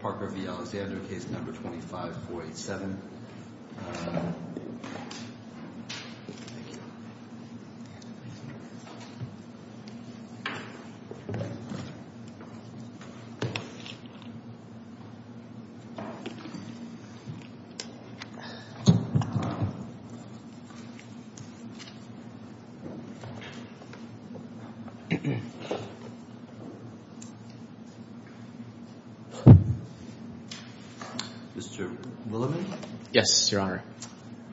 Parker v. Alexander, case number 25487. Mr. Willoughby? Yes, Your Honor.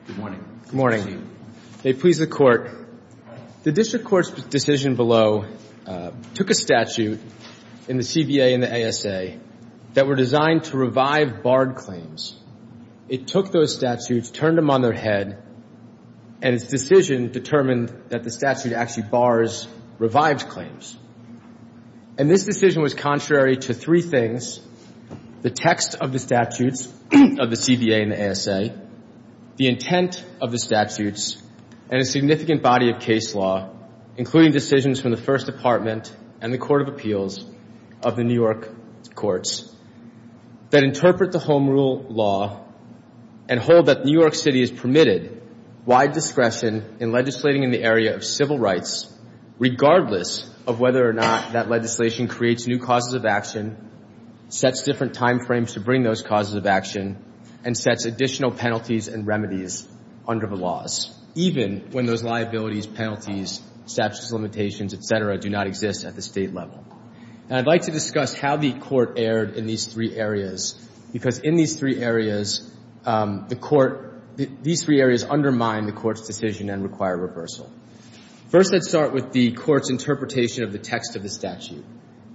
Good morning. Good morning. May it please the Court. The district court's decision below took a statute in the CBA and the ASA that were designed to revive barred claims. It took those statutes, turned them on their head, and its decision determined that the statute actually bars revived claims. And this decision was contrary to three things, the text of the statutes of the CBA and the ASA, the intent of the statutes, and a significant body of case law, including decisions from the First Department and the Court of Appeals of the New York courts, that interpret the Home Rule law and hold that New York City is permitted wide discretion in legislating in the area of civil rights, regardless of whether or not that legislation creates new causes of action, sets different time frames to bring those causes of action, and sets additional penalties and remedies under the laws, even when those liabilities, penalties, statutes, limitations, et cetera, do not exist at the state level. And I'd like to discuss how the Court erred in these three areas, because in these three areas, the Court, these three areas undermine the Court's decision and require reversal. First, let's start with the Court's interpretation of the text of the statute.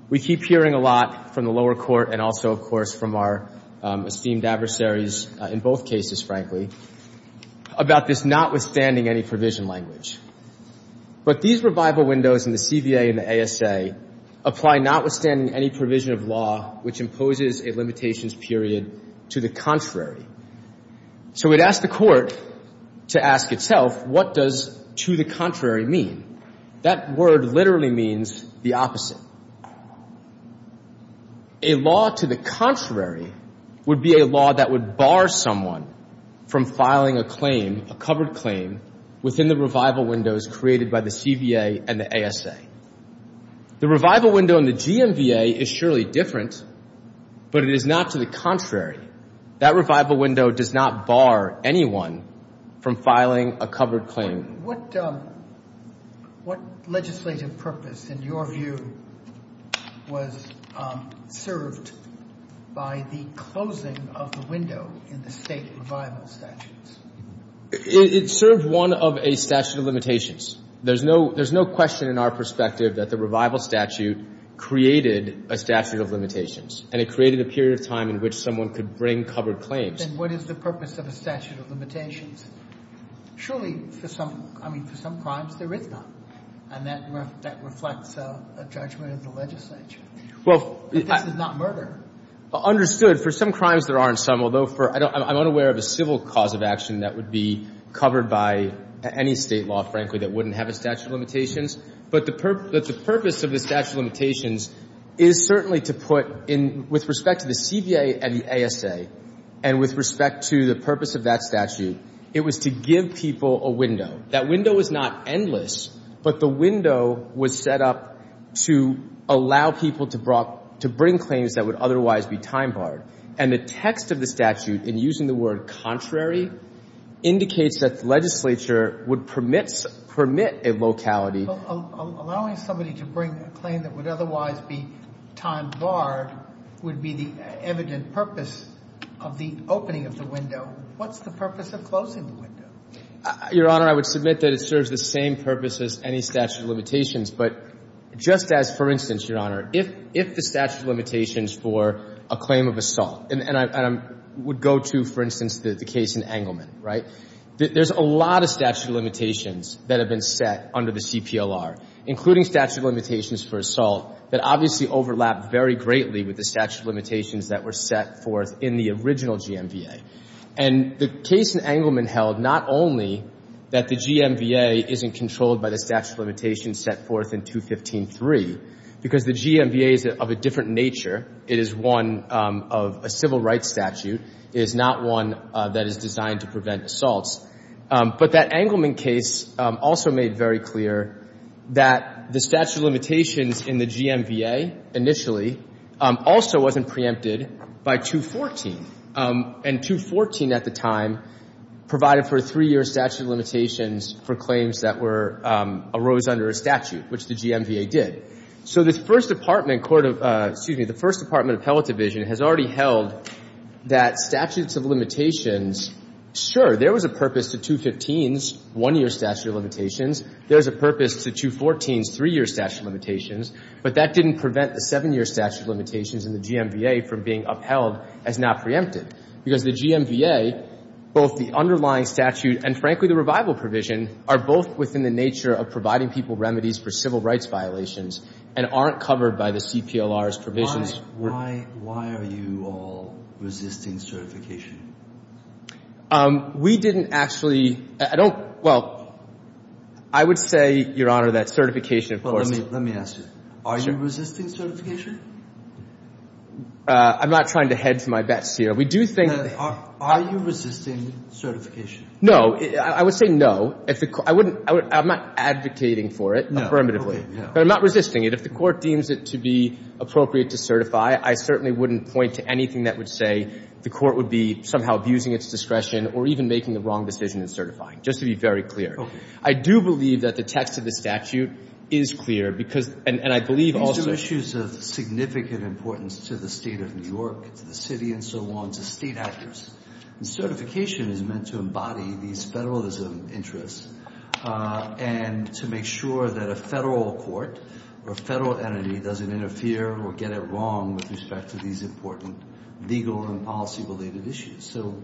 We keep hearing a lot from the lower court and also, of course, from our esteemed adversaries in both cases, frankly, about this notwithstanding any provision language. But these revival windows in the CBA and the ASA apply notwithstanding any provision of law which imposes a limitations period to the contrary. So we'd ask the Court to ask itself, what does to the contrary mean? That word literally means the opposite. A law to the contrary would be a law that would bar someone from filing a claim, a covered claim, within the revival windows created by the CBA and the ASA. The revival window in the GMBA is surely different, but it is not to the contrary. That revival window does not bar anyone from filing a covered claim. What legislative purpose, in your view, was served by the closing of the window in the state revival statutes? It served one of a statute of limitations. There's no question in our perspective that the revival statute created a statute of limitations and it created a period of time in which someone could bring covered claims. Then what is the purpose of a statute of limitations? Surely, for some crimes, there is not, and that reflects a judgment of the legislature. But this is not murder. Understood. For some crimes, there aren't some, although I'm unaware of a civil cause of action that would be covered by any state law, frankly, that wouldn't have a statute of limitations. But the purpose of the statute of limitations is certainly to put, with respect to the CBA and the ASA, and with respect to the purpose of that statute, it was to give people a window. That window is not endless, but the window was set up to allow people to bring claims that would otherwise be time-barred. And the text of the statute, in using the word contrary, indicates that the legislature would permit a locality. Well, allowing somebody to bring a claim that would otherwise be time-barred would be the evident purpose of the opening of the window. What's the purpose of closing the window? Your Honor, I would submit that it serves the same purpose as any statute of limitations. But just as, for instance, Your Honor, if the statute of limitations for a claim of assault, and I would go to, for instance, the case in Engleman, right? There's a lot of statute of limitations that have been set under the CPLR, including statute of limitations for assault, that obviously overlap very greatly with the statute of limitations that were set forth in the original GMBA. And the case in Engleman held not only that the GMBA isn't controlled by the statute of limitations set forth in 215-3, because the GMBA is of a different nature. It is one of a civil rights statute. It is not one that is designed to prevent assaults. But that Engleman case also made very clear that the statute of limitations in the GMBA initially also wasn't preempted by 214. And 214 at the time provided for a three-year statute of limitations for claims that arose under a statute, which the GMBA did. So the First Department of Appellate Division has already held that statutes of limitations, sure, there was a purpose to 215's one-year statute of limitations. There was a purpose to 214's three-year statute of limitations. But that didn't prevent the seven-year statute of limitations in the GMBA from being upheld as not preempted, because the GMBA, both the underlying statute and, frankly, the revival provision, are both within the nature of providing people remedies for civil rights violations and aren't covered by the CPLR's provisions. Why are you all resisting certification? We didn't actually – I don't – well, I would say, Your Honor, that certification, of course, is a part of the statute. Let me ask you. Are you resisting certification? I'm not trying to hedge my bets here. We do think that the – Are you resisting certification? No. I would say no. I wouldn't – I'm not advocating for it affirmatively. Okay. But I'm not resisting it. If the Court deems it to be appropriate to certify, I certainly wouldn't point to anything that would say the Court would be somehow abusing its discretion or even making the wrong decision in certifying, just to be very clear. I do believe that the text of the statute is clear because – and I believe also – These are issues of significant importance to the State of New York, to the city and so on, to state actors. And certification is meant to embody these federalism interests and to make sure that a federal court or a federal entity doesn't interfere or get it wrong with respect to these important legal and policy-related issues. So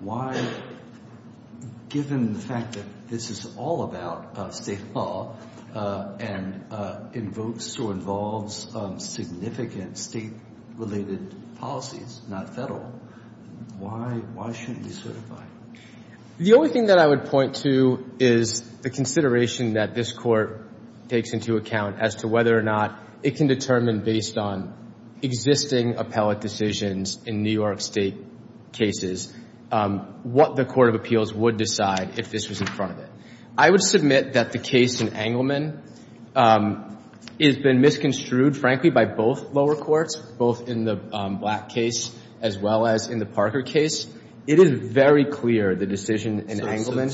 why – given the fact that this is all about state law and invokes or involves significant state-related policies, not federal, why shouldn't we certify? The only thing that I would point to is the consideration that this Court takes into account as to whether or not it can determine, based on existing appellate decisions in New York State cases, what the Court of Appeals would decide if this was in front of it. I would submit that the case in Engleman has been misconstrued, frankly, by both lower courts, both in the Black case as well as in the Parker case. It is very clear the decision in Engleman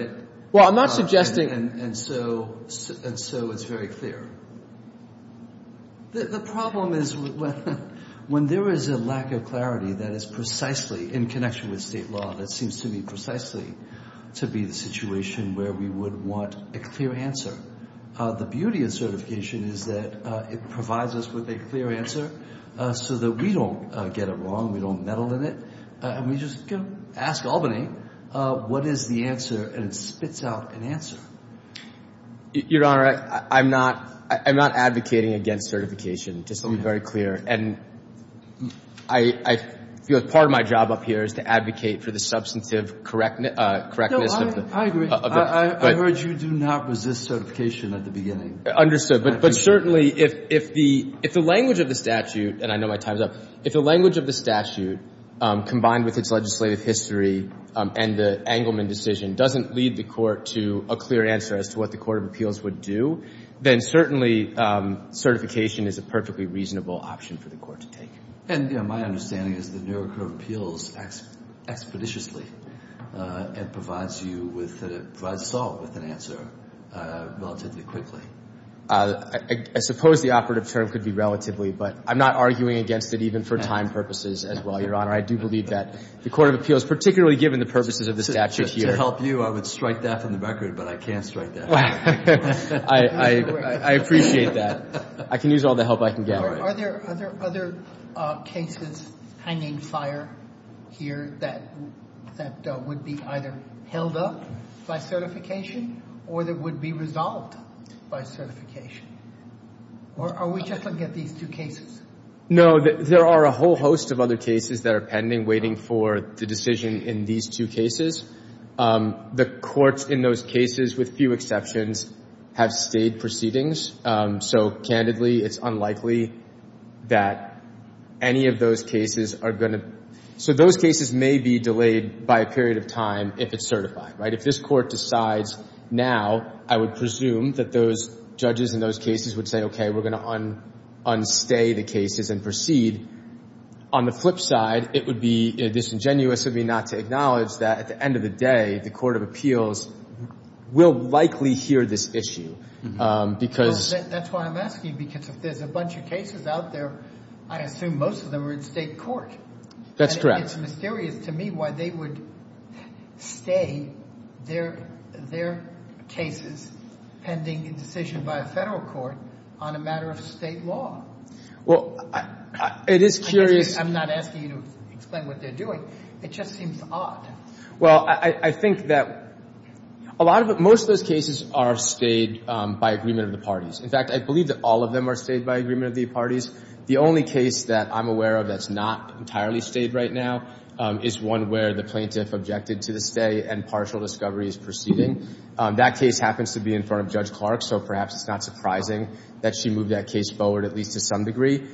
– Well, I'm not suggesting – And so it's very clear. The problem is when there is a lack of clarity that is precisely in connection with state law, that seems to me precisely to be the situation where we would want a clear answer. The beauty of certification is that it provides us with a clear answer so that we don't get it wrong, we don't meddle in it, and we just ask Albany, what is the answer? And it spits out an answer. Your Honor, I'm not advocating against certification, just to be very clear. And I feel part of my job up here is to advocate for the substantive correctness of the – No, I agree. I heard you do not resist certification at the beginning. Understood. But certainly, if the language of the statute – and I know my time is up – if the language of the statute combined with its legislative history and the Engleman decision doesn't lead the Court to a clear answer as to what the Court of Appeals would do, then certainly certification is a perfectly reasonable option for the Court to take. And my understanding is the New York Court of Appeals acts expeditiously and provides you with – provides Saul with an answer relatively quickly. I suppose the operative term could be relatively, but I'm not arguing against it even for time purposes as well, Your Honor. I do believe that the Court of Appeals, particularly given the purposes of the statute here – To help you, I would strike that from the record, but I can't strike that. I appreciate that. I can use all the help I can get. Are there other cases hanging fire here that would be either held up by certification or that would be resolved by certification? Or are we just looking at these two cases? No, there are a whole host of other cases that are pending, waiting for the decision in these two cases. The courts in those cases, with few exceptions, have stayed proceedings. So, candidly, it's unlikely that any of those cases are going to – so those cases may be delayed by a period of time if it's certified, right? If this court decides now, I would presume that those judges in those cases would say, okay, we're going to un-stay the cases and proceed. On the flip side, it would be disingenuous of me not to acknowledge that at the end of the day, the Court of Appeals will likely hear this issue because – That's why I'm asking because if there's a bunch of cases out there, I assume most of them are in state court. That's correct. It's mysterious to me why they would stay their cases pending a decision by a federal court on a matter of state law. Well, it is curious – I'm not asking you to explain what they're doing. It just seems odd. Well, I think that a lot of – most of those cases are stayed by agreement of the parties. In fact, I believe that all of them are stayed by agreement of the parties. The only case that I'm aware of that's not entirely stayed right now is one where the plaintiff objected to the stay and partial discovery is proceeding. That case happens to be in front of Judge Clark, so perhaps it's not surprising that she moved that case forward at least to some degree.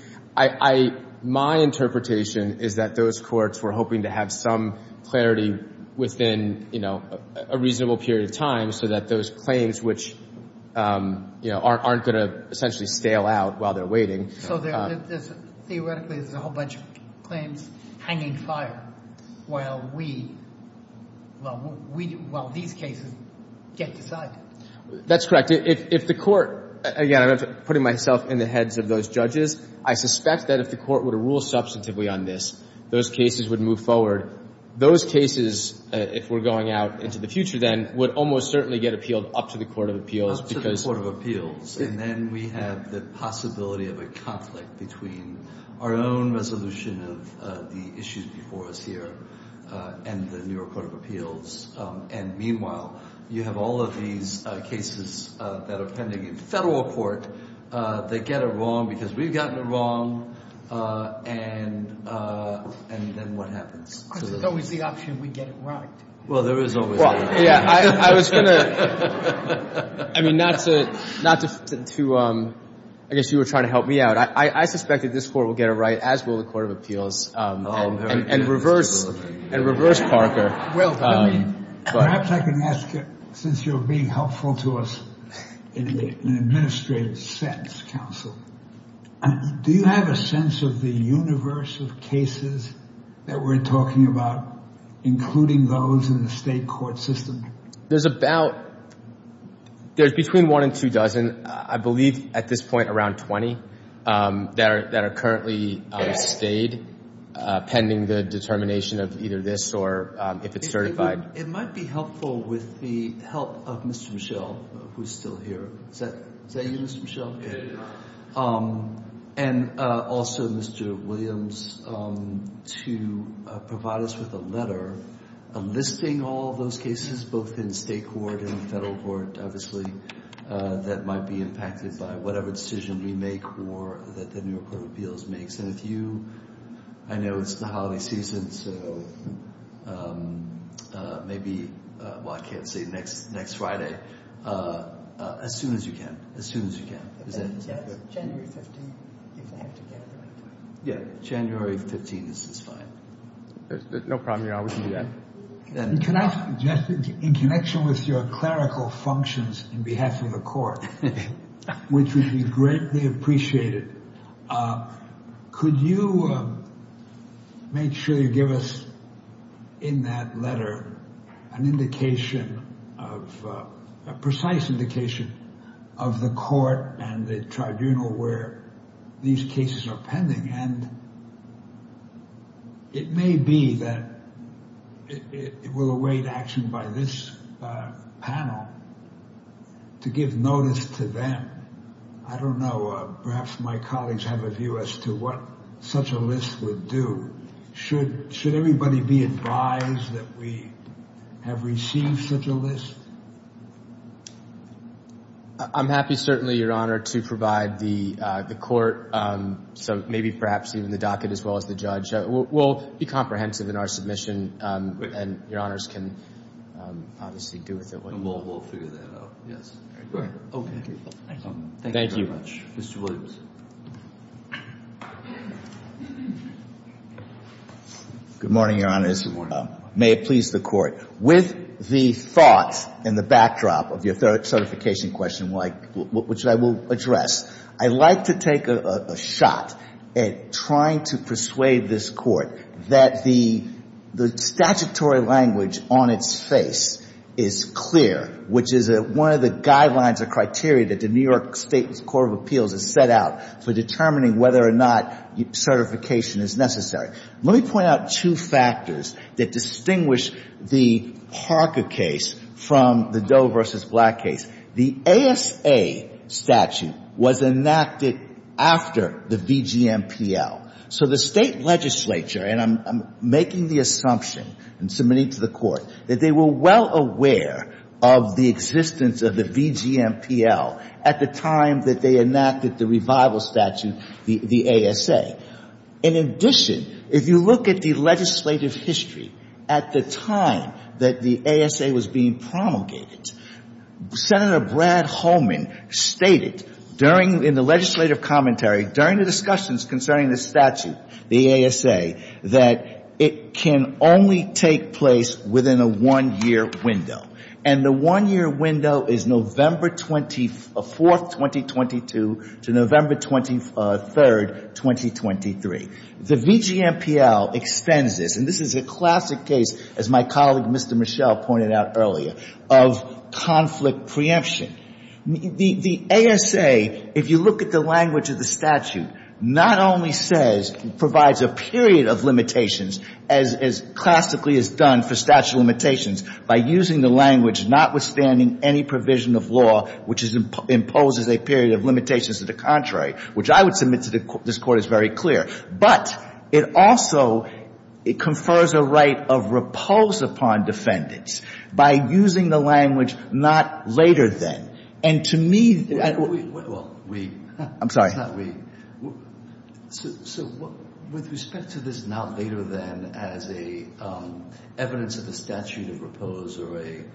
My interpretation is that those courts were hoping to have some clarity within a reasonable period of time so that those claims, which aren't going to essentially stale out while they're waiting – So theoretically there's a whole bunch of claims hanging fire while we – while these cases get decided. That's correct. If the court – again, I'm putting myself in the heads of those judges. I suspect that if the court were to rule substantively on this, those cases would move forward. Those cases, if we're going out into the future then, would almost certainly get appealed up to the court of appeals because – between our own resolution of the issues before us here and the New York court of appeals. And meanwhile, you have all of these cases that are pending in federal court. They get it wrong because we've gotten it wrong, and then what happens? There's always the option we get it right. Well, there is always that. Yeah, I was going to – I mean, not to – I guess you were trying to help me out. I suspect that this court will get it right, as will the court of appeals, and reverse Parker. Perhaps I can ask, since you're being helpful to us in an administrative sense, counsel, do you have a sense of the universe of cases that we're talking about, including those in the state court system? There's about – there's between one and two dozen. I believe at this point around 20 that are currently stayed pending the determination of either this or if it's certified. It might be helpful with the help of Mr. Michel, who's still here. Is that you, Mr. Michel? And also, Mr. Williams, to provide us with a letter enlisting all those cases, both in state court and federal court, obviously, that might be impacted by whatever decision we make or that the New York court of appeals makes. And if you – I know it's the holiday season, so maybe – well, I can't say next Friday. As soon as you can. As soon as you can. Is that good? January 15th, if I have to get it right. Yeah, January 15th, this is fine. No problem. I will do that. And can I – in connection with your clerical functions on behalf of the court, which would be greatly appreciated, could you make sure you give us in that letter an indication of – a precise indication of the court and the tribunal where these cases are pending? And it may be that it will await action by this panel to give notice to them. I don't know. Perhaps my colleagues have a view as to what such a list would do. Should everybody be advised that we have received such a list? I'm happy, certainly, Your Honor, to provide the court, so maybe perhaps even the docket as well as the judge. We'll be comprehensive in our submission, and Your Honors can obviously do with it what you want. We'll figure that out. Yes. Okay. Thank you very much. Thank you. Mr. Williams. Good morning, Your Honors. Good morning. May it please the Court. With the thoughts and the backdrop of your certification question, which I will address, I'd like to take a shot at trying to persuade this Court that the statutory language on its face is clear, which is one of the guidelines or criteria that the New York State's Court of Appeals has set out for determining whether or not certification is necessary. Let me point out two factors that distinguish the Harker case from the Doe v. Black case. The ASA statute was enacted after the BGMPL. So the State legislature, and I'm making the assumption and submitting to the Court, that they were well aware of the existence of the BGMPL at the time that they enacted the revival statute, the ASA. In addition, if you look at the legislative history at the time that the ASA was being promulgated, Senator Brad Holman stated during the legislative commentary, during the discussions concerning the statute, the ASA, that it can only take place within a one-year window. And the one-year window is November 24th, 2022, to November 23rd, 2023. The BGMPL extends this, and this is a classic case, as my colleague, Mr. Michel, pointed out earlier, of conflict preemption. The ASA, if you look at the language of the statute, not only says, provides a period of limitations, as classically is done for statute of limitations, by using the language, notwithstanding any provision of law which imposes a period of limitations to the contrary, which I would submit to this Court as very clear. But it also confers a right of repose upon defendants by using the language, not later than. And to me, that would be — So with respect to this, not later than, as evidence of the statute of repose, or an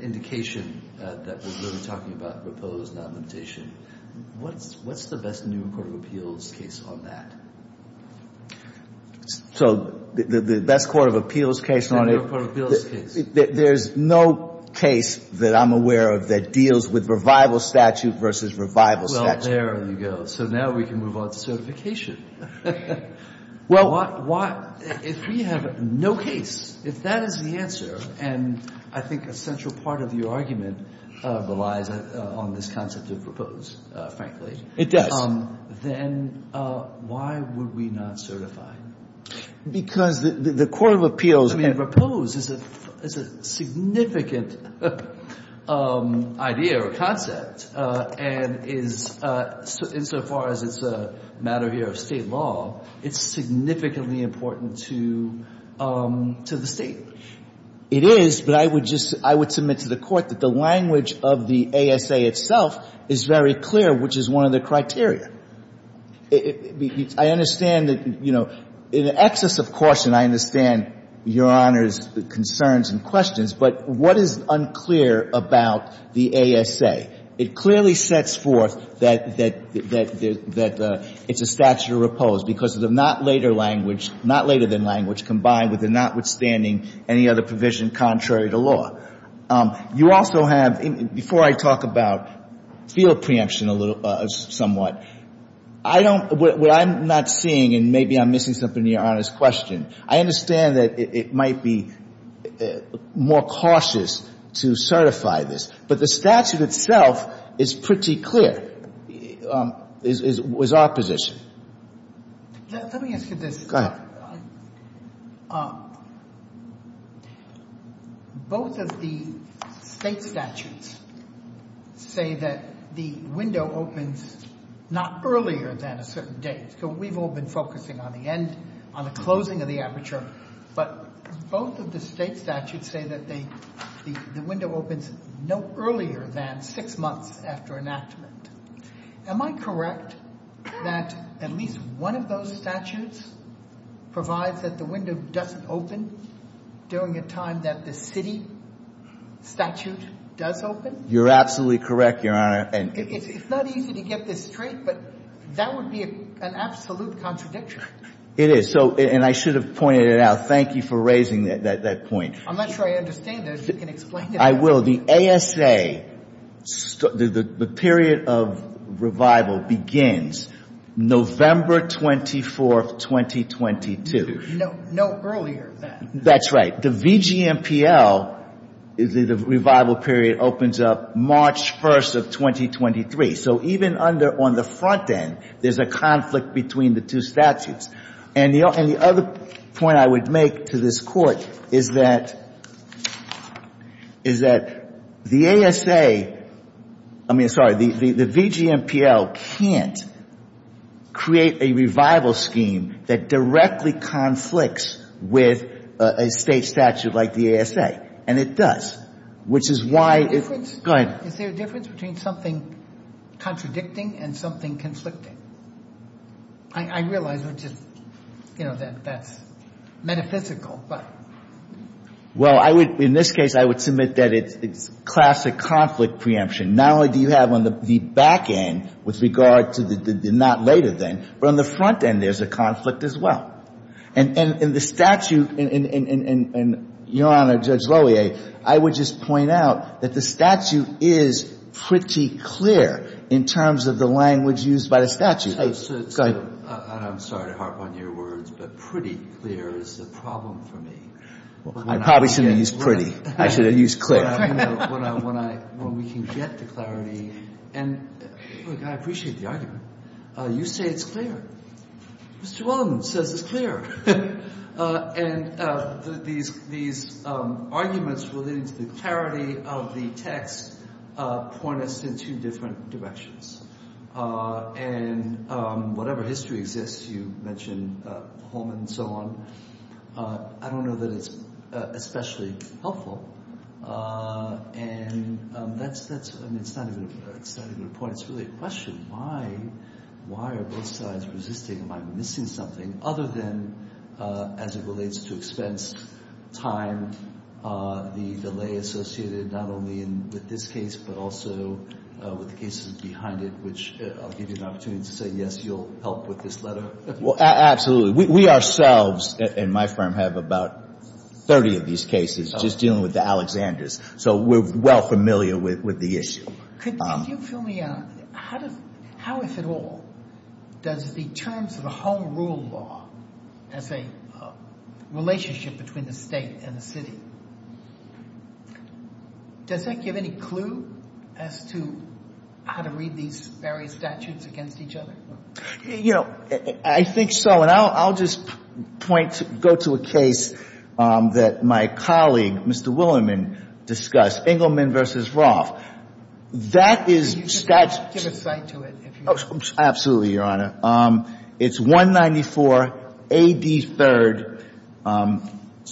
indication that we're really talking about repose, not limitation, what's the best New York Court of Appeals case on that? So the best Court of Appeals case on it — New York Court of Appeals case. There's no case that I'm aware of that deals with revival statute versus revival statute. Well, there you go. So now we can move on to certification. Well — If we have no case, if that is the answer, and I think a central part of your argument relies on this concept of repose, frankly — It does. Then why would we not certify? Because the Court of Appeals — I mean, repose is a significant idea or concept and is — insofar as it's a matter here of State law, it's significantly important to the State. It is, but I would just — I would submit to the Court that the language of the ASA itself is very clear, which is one of the criteria. I understand that, you know, in excess of caution, I understand Your Honor's concerns and questions, but what is unclear about the ASA? It clearly sets forth that it's a statute of repose because of the not later language — not later than language combined with the notwithstanding any other provision contrary to law. You also have — before I talk about field preemption a little — somewhat, I don't — what I'm not seeing, and maybe I'm missing something in Your Honor's question, I understand that it might be more cautious to certify this. But the statute itself is pretty clear, is our position. Let me ask you this. Go ahead. Both of the State statutes say that the window opens not earlier than a certain date. We've all been focusing on the end, on the closing of the aperture. But both of the State statutes say that the window opens no earlier than six months after enactment. Am I correct that at least one of those statutes provides that the window doesn't open during a time that the city statute does open? You're absolutely correct, Your Honor. It's not easy to get this straight, but that would be an absolute contradiction. It is. So — and I should have pointed it out. Thank you for raising that point. I'm not sure I understand this. You can explain it. I will. So the ASA, the period of revival begins November 24th, 2022. No earlier than that. That's right. The VGMPL, the revival period, opens up March 1st of 2023. So even under — on the front end, there's a conflict between the two statutes. And the other point I would make to this Court is that the ASA — I mean, sorry, the VGMPL can't create a revival scheme that directly conflicts with a State statute like the ASA. And it does, which is why — Is there a difference — Go ahead. Is there a difference between something contradicting and something conflicting? I realize we're just — you know, that's metaphysical, but — Well, I would — in this case, I would submit that it's classic conflict preemption. Not only do you have on the back end, with regard to the not later than, but on the front end, there's a conflict as well. And the statute — and, Your Honor, Judge Lohier, I would just point out that the statute is pretty clear in terms of the language used by the statute. I'm sorry to harp on your words, but pretty clear is the problem for me. I probably shouldn't have used pretty. I should have used clear. When we can get the clarity — and, look, I appreciate the argument. You say it's clear. Mr. Wellman says it's clear. And these arguments relating to the clarity of the text point us in two different directions. And whatever history exists, you mentioned the Holman and so on. I don't know that it's especially helpful. And that's — I mean, it's not even a point. It's really a question. Why are both sides resisting? Am I missing something? Other than, as it relates to expense, time, the delay associated not only with this case, but also with the cases behind it, which I'll give you an opportunity to say, yes, you'll help with this letter. Well, absolutely. We ourselves, in my firm, have about 30 of these cases just dealing with the Alexanders. So we're well familiar with the issue. Could you fill me out? How, if at all, does the terms of the home rule law as a relationship between the state and the city, does that give any clue as to how to read these various statutes against each other? You know, I think so. Well, I'll just point — go to a case that my colleague, Mr. Willerman, discussed, Engleman v. Roth. That is statute — Give a cite to it, if you want. Absolutely, Your Honor. It's 194 A.D. 3rd,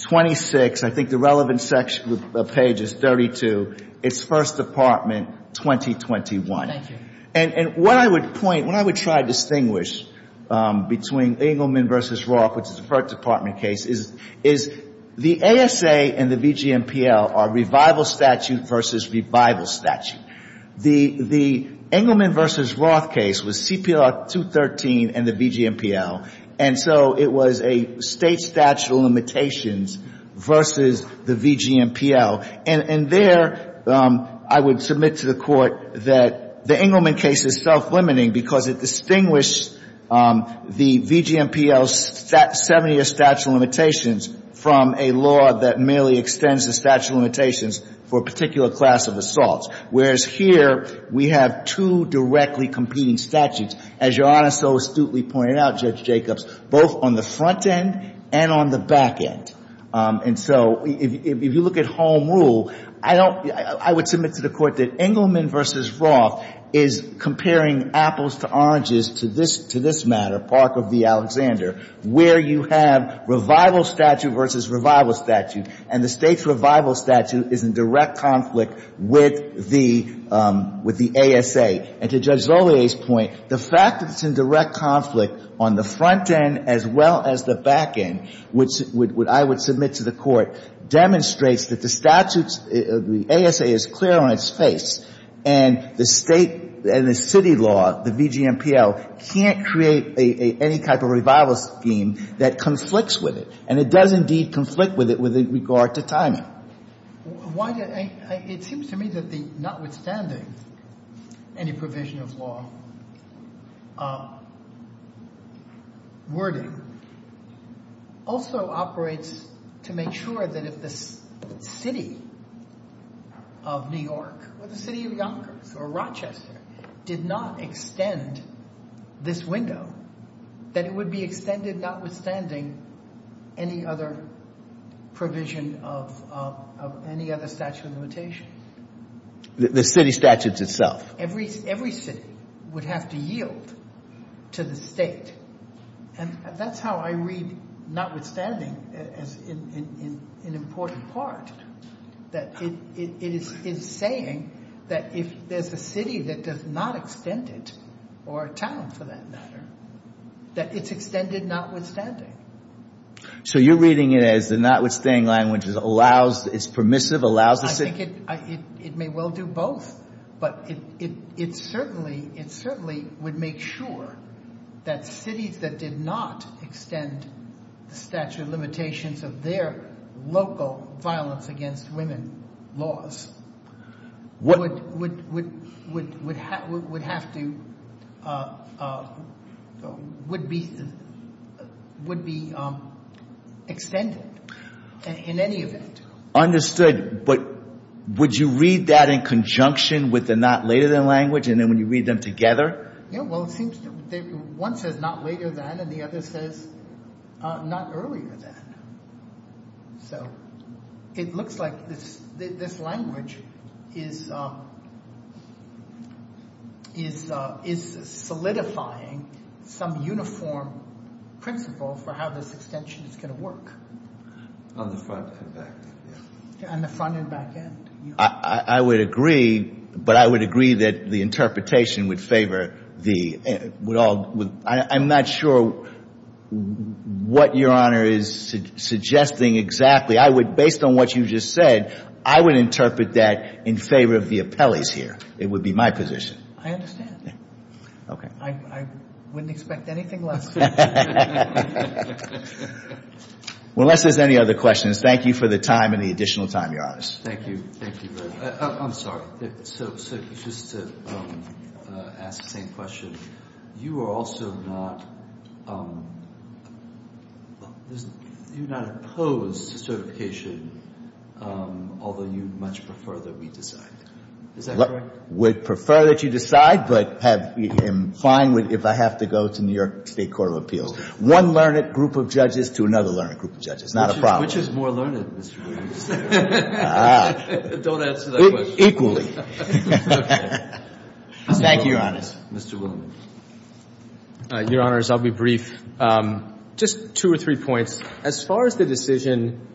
26. I think the relevant section of the page is 32. It's First Department, 2021. Thank you. And what I would point — what I would try to distinguish between Engleman v. Roth, which is a First Department case, is the ASA and the VGMPL are revival statute versus revival statute. The Engleman v. Roth case was CPR 213 and the VGMPL. And so it was a state statute of limitations versus the VGMPL. And there, I would submit to the Court that the Engleman case is self-limiting because it distinguished the VGMPL's 70-year statute of limitations from a law that merely extends the statute of limitations for a particular class of assaults, whereas here we have two directly competing statutes, as Your Honor so astutely pointed out, Judge Jacobs, both on the front end and on the back end. And so if you look at home rule, I don't — I would submit to the Court that Engleman v. Roth is comparing apples to oranges to this — to this matter, Park v. Alexander, where you have revival statute versus revival statute, and the state's revival statute is in direct conflict with the — with the ASA. And to Judge Zollier's point, the fact that it's in direct conflict on the front end as well as the back end would — I would submit to the Court demonstrates that the statute's — the ASA is clear on its face and the state and the city law, the VGMPL, can't create any type of revival scheme that conflicts with it, and it does indeed conflict with it with regard to timing. But why did — it seems to me that the notwithstanding any provision of law wording also operates to make sure that if the city of New York or the city of Yonkers or Rochester did not extend this window, that it would be extended notwithstanding any other provision of any other statute of limitations. The city statutes itself. Every city would have to yield to the state. And that's how I read notwithstanding as an important part, that it is saying that if there's a city that does not extend it, or a town for that matter, that it's extended notwithstanding. So you're reading it as the notwithstanding language is permissive, allows the city — I think it may well do both. But it certainly would make sure that cities that did not extend the statute of limitations of their local violence against women laws would have to — would be extended in any event. Understood. But would you read that in conjunction with the not later than language, and then when you read them together? One says not later than, and the other says not earlier than. So it looks like this language is solidifying some uniform principle for how this extension is going to work. On the front and back. On the front and back end. I would agree, but I would agree that the interpretation would favor the — I'm not sure what Your Honor is suggesting exactly. I would, based on what you just said, I would interpret that in favor of the appellees here. It would be my position. I understand. Okay. I wouldn't expect anything less. Unless there's any other questions, thank you for the time and the additional time, Your Honor. Thank you. Thank you. I'm sorry. So just to ask the same question, you are also not — you do not oppose certification, although you'd much prefer that we decide. Is that correct? Would prefer that you decide, but I'm fine if I have to go to New York State Court of Appeals. One learned group of judges to another learned group of judges. Not a problem. Which is more learned, Mr. Williams? Don't answer that question. Equally. Thank you, Your Honors. Mr. Williams. Your Honors, I'll be brief. Just two or three points. As far as the decision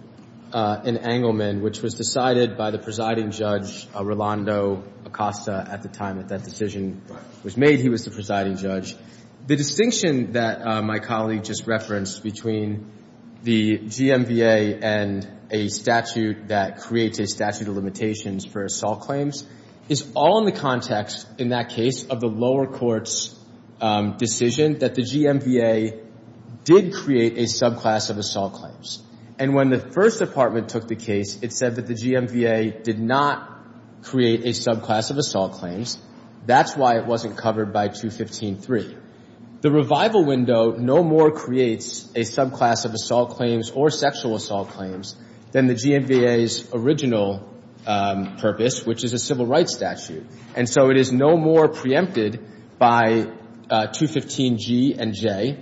in Engleman, which was decided by the presiding judge, Rolando Acosta, at the time that that decision was made, he was the presiding judge. The distinction that my colleague just referenced between the GMBA and a statute that creates a statute of limitations for assault claims is all in the context, in that case, of the lower court's decision that the GMBA did create a subclass of assault claims. And when the First Department took the case, it said that the GMBA did not create a subclass of assault claims. That's why it wasn't covered by 215-3. The revival window no more creates a subclass of assault claims or sexual assault claims than the GMBA's original purpose, which is a civil rights statute. And so it is no more preempted by 215-G and J,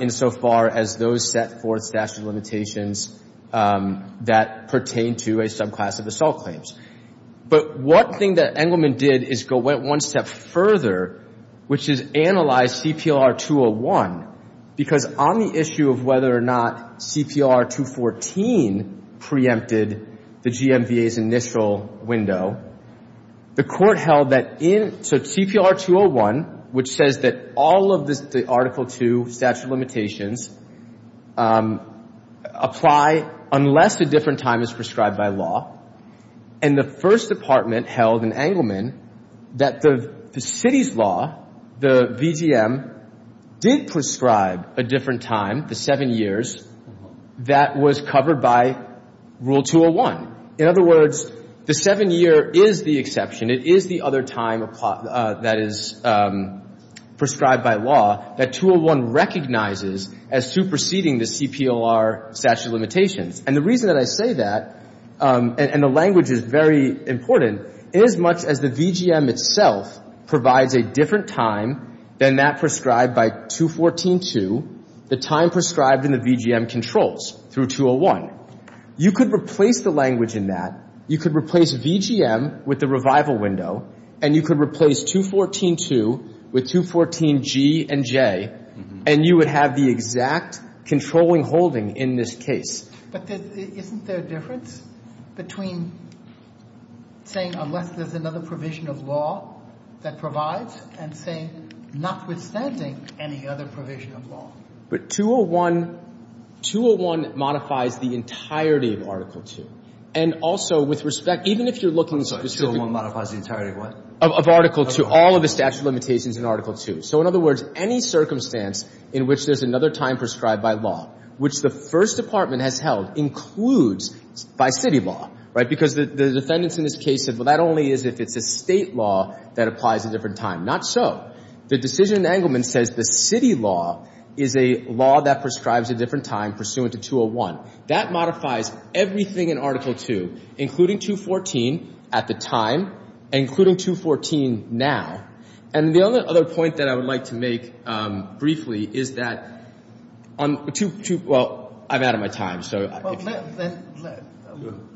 insofar as those set forth statute of limitations that pertain to a subclass of assault claims. But one thing that Engleman did is go one step further, which is analyze CPR-201, because on the issue of whether or not CPR-214 preempted the GMBA's initial window, the court held that in — so CPR-201, which says that all of the Article II statute of limitations apply unless a different time is prescribed by law. And the First Department held in Engleman that the city's law, the VGM, did prescribe a different time, the seven years, that was covered by Rule 201. In other words, the seven year is the exception. It is the other time that is prescribed by law that 201 recognizes as superseding the CPR statute of limitations. And the reason that I say that, and the language is very important, inasmuch as the VGM itself provides a different time than that prescribed by 214-2, the time prescribed in the VGM controls through 201. You could replace the language in that. You could replace VGM with the revival window, and you could replace 214-2 with 214-G and J, and you would have the exact controlling holding in this case. But isn't there a difference between saying unless there's another provision of law that provides and saying notwithstanding any other provision of law? But 201 — 201 modifies the entirety of Article II. And also, with respect — even if you're looking specifically — So 201 modifies the entirety of what? Of Article II, all of the statute of limitations in Article II. So, in other words, any circumstance in which there's another time prescribed by law, which the First Department has held, includes by city law, right? Because the defendants in this case said, well, that only is if it's a State law that applies a different time. Not so. The decision in Engleman says the city law is a law that prescribes a different time pursuant to 201. That modifies everything in Article II, including 214 at the time and including 214 now. And the other point that I would like to make briefly is that on — well, I'm out of my time.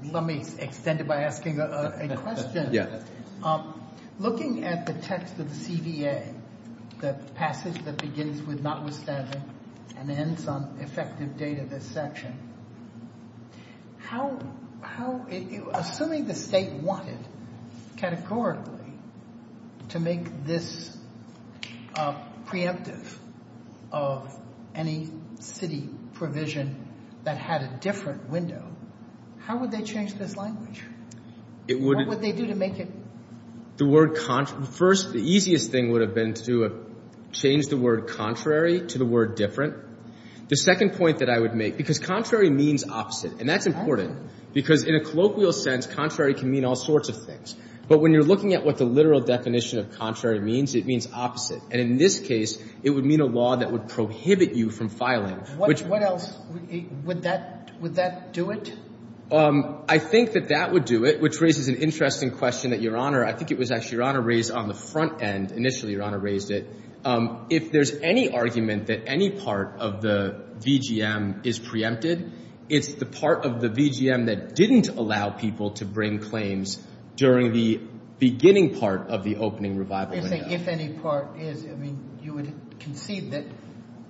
Let me extend it by asking a question. Yeah. Looking at the text of the CVA, the passage that begins with notwithstanding and ends on effective date of this section, how — assuming the State wanted categorically to make this preemptive of any city provision that had a different window, how would they change this language? It would — What would they do to make it — The word — first, the easiest thing would have been to change the word contrary to the word different. The second point that I would make, because contrary means opposite, and that's important, because in a colloquial sense, contrary can mean all sorts of things. But when you're looking at what the literal definition of contrary means, it means opposite. And in this case, it would mean a law that would prohibit you from filing, which — What else? Would that — would that do it? I think that that would do it, which raises an interesting question that Your Honor — I think it was actually Your Honor raised on the front end. Initially, Your Honor raised it. If there's any argument that any part of the VGM is preempted, it's the part of the VGM that didn't allow people to bring claims during the beginning part of the opening revival window. If any part is — I mean, you would concede that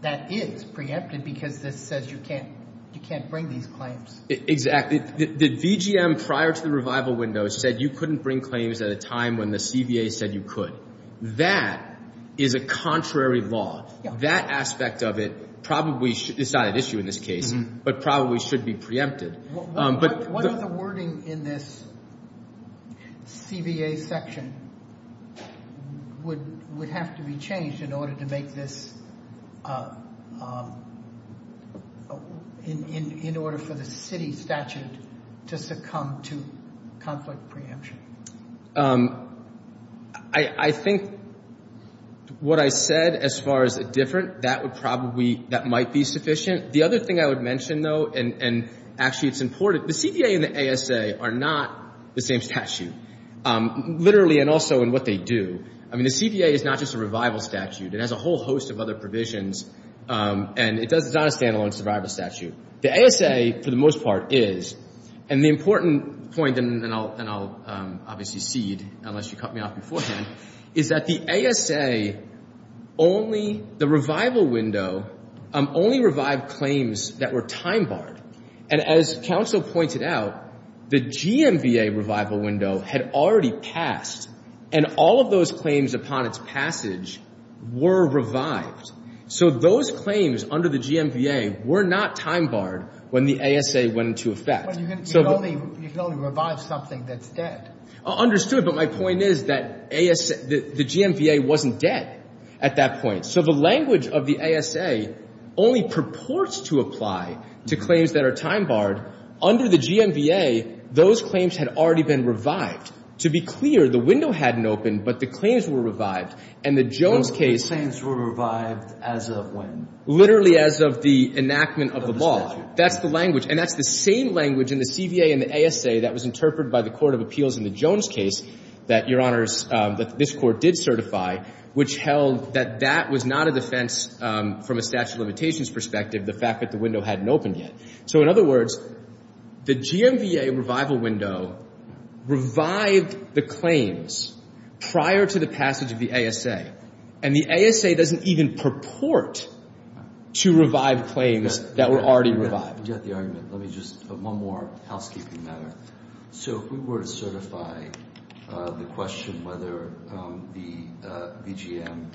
that is preempted because this says you can't — you can't bring these claims. Exactly. The VGM prior to the revival window said you couldn't bring claims at a time when the CBA said you could. That is a contrary law. That aspect of it probably is not at issue in this case, but probably should be preempted. What other wording in this CBA section would have to be changed in order to make this — in order for the city statute to succumb to conflict preemption? I think what I said as far as different, that would probably — that might be sufficient. The other thing I would mention, though, and actually it's important, the CBA and the ASA are not the same statute, literally and also in what they do. I mean, the CBA is not just a revival statute. It has a whole host of other provisions, and it's not a standalone survival statute. The ASA, for the most part, is. And the important point, and I'll obviously cede unless you cut me off beforehand, is that the ASA only — the revival window only revived claims that were time-barred. And as counsel pointed out, the GMVA revival window had already passed, and all of those claims upon its passage were revived. So those claims under the GMVA were not time-barred when the ASA went into effect. But you can only — you can only revive something that's dead. Understood. But my point is that ASA — the GMVA wasn't dead at that point. So the language of the ASA only purports to apply to claims that are time-barred. Under the GMVA, those claims had already been revived. To be clear, the window hadn't opened, but the claims were revived. And the Jones case — The claims were revived as of when? Literally as of the enactment of the law. That's the language. And that's the same language in the CVA and the ASA that was interpreted by the Court of Appeals in the Jones case that, Your Honors, that this Court did certify, which held that that was not a defense from a statute of limitations perspective, the fact that the window hadn't opened yet. So in other words, the GMVA revival window revived the claims prior to the passage of the ASA, and the ASA doesn't even purport to revive claims that were already revived. I forget the argument. Let me just — one more housekeeping matter. So if we were to certify the question whether the VGM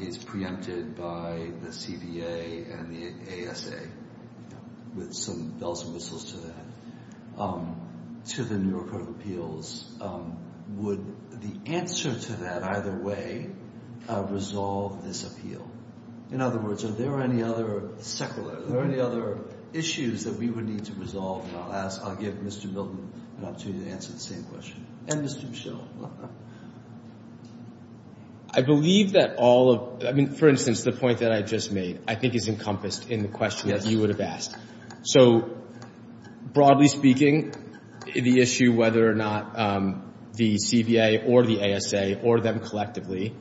is preempted by the CVA and the ASA, with some bells and whistles to that, to the New York Court of Appeals, would the answer to that either way resolve this appeal? In other words, are there any other — Secondly, are there any other issues that we would need to resolve? And I'll ask — I'll give Mr. Milton an opportunity to answer the same question. And Mr. Michel. I believe that all of — I mean, for instance, the point that I just made, I think is encompassed in the question that you would have asked. So broadly speaking, the issue whether or not the CVA or the ASA or them collectively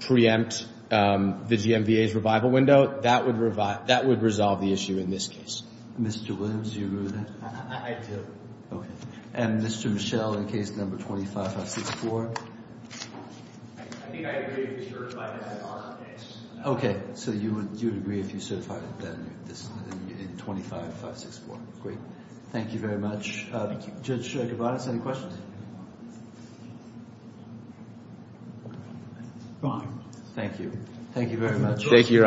preempt the GMVA's revival window, that would resolve the issue in this case. Mr. Williams, do you agree with that? I do. Okay. And Mr. Michel, in case number 25564? I think I agree if you certify that in our case. Okay. So you would agree if you certify that in 25564. Great. Thank you very much. Thank you. Judge Gavadas, any questions? Fine. Thank you. Thank you very much. Thank you, Your Honors.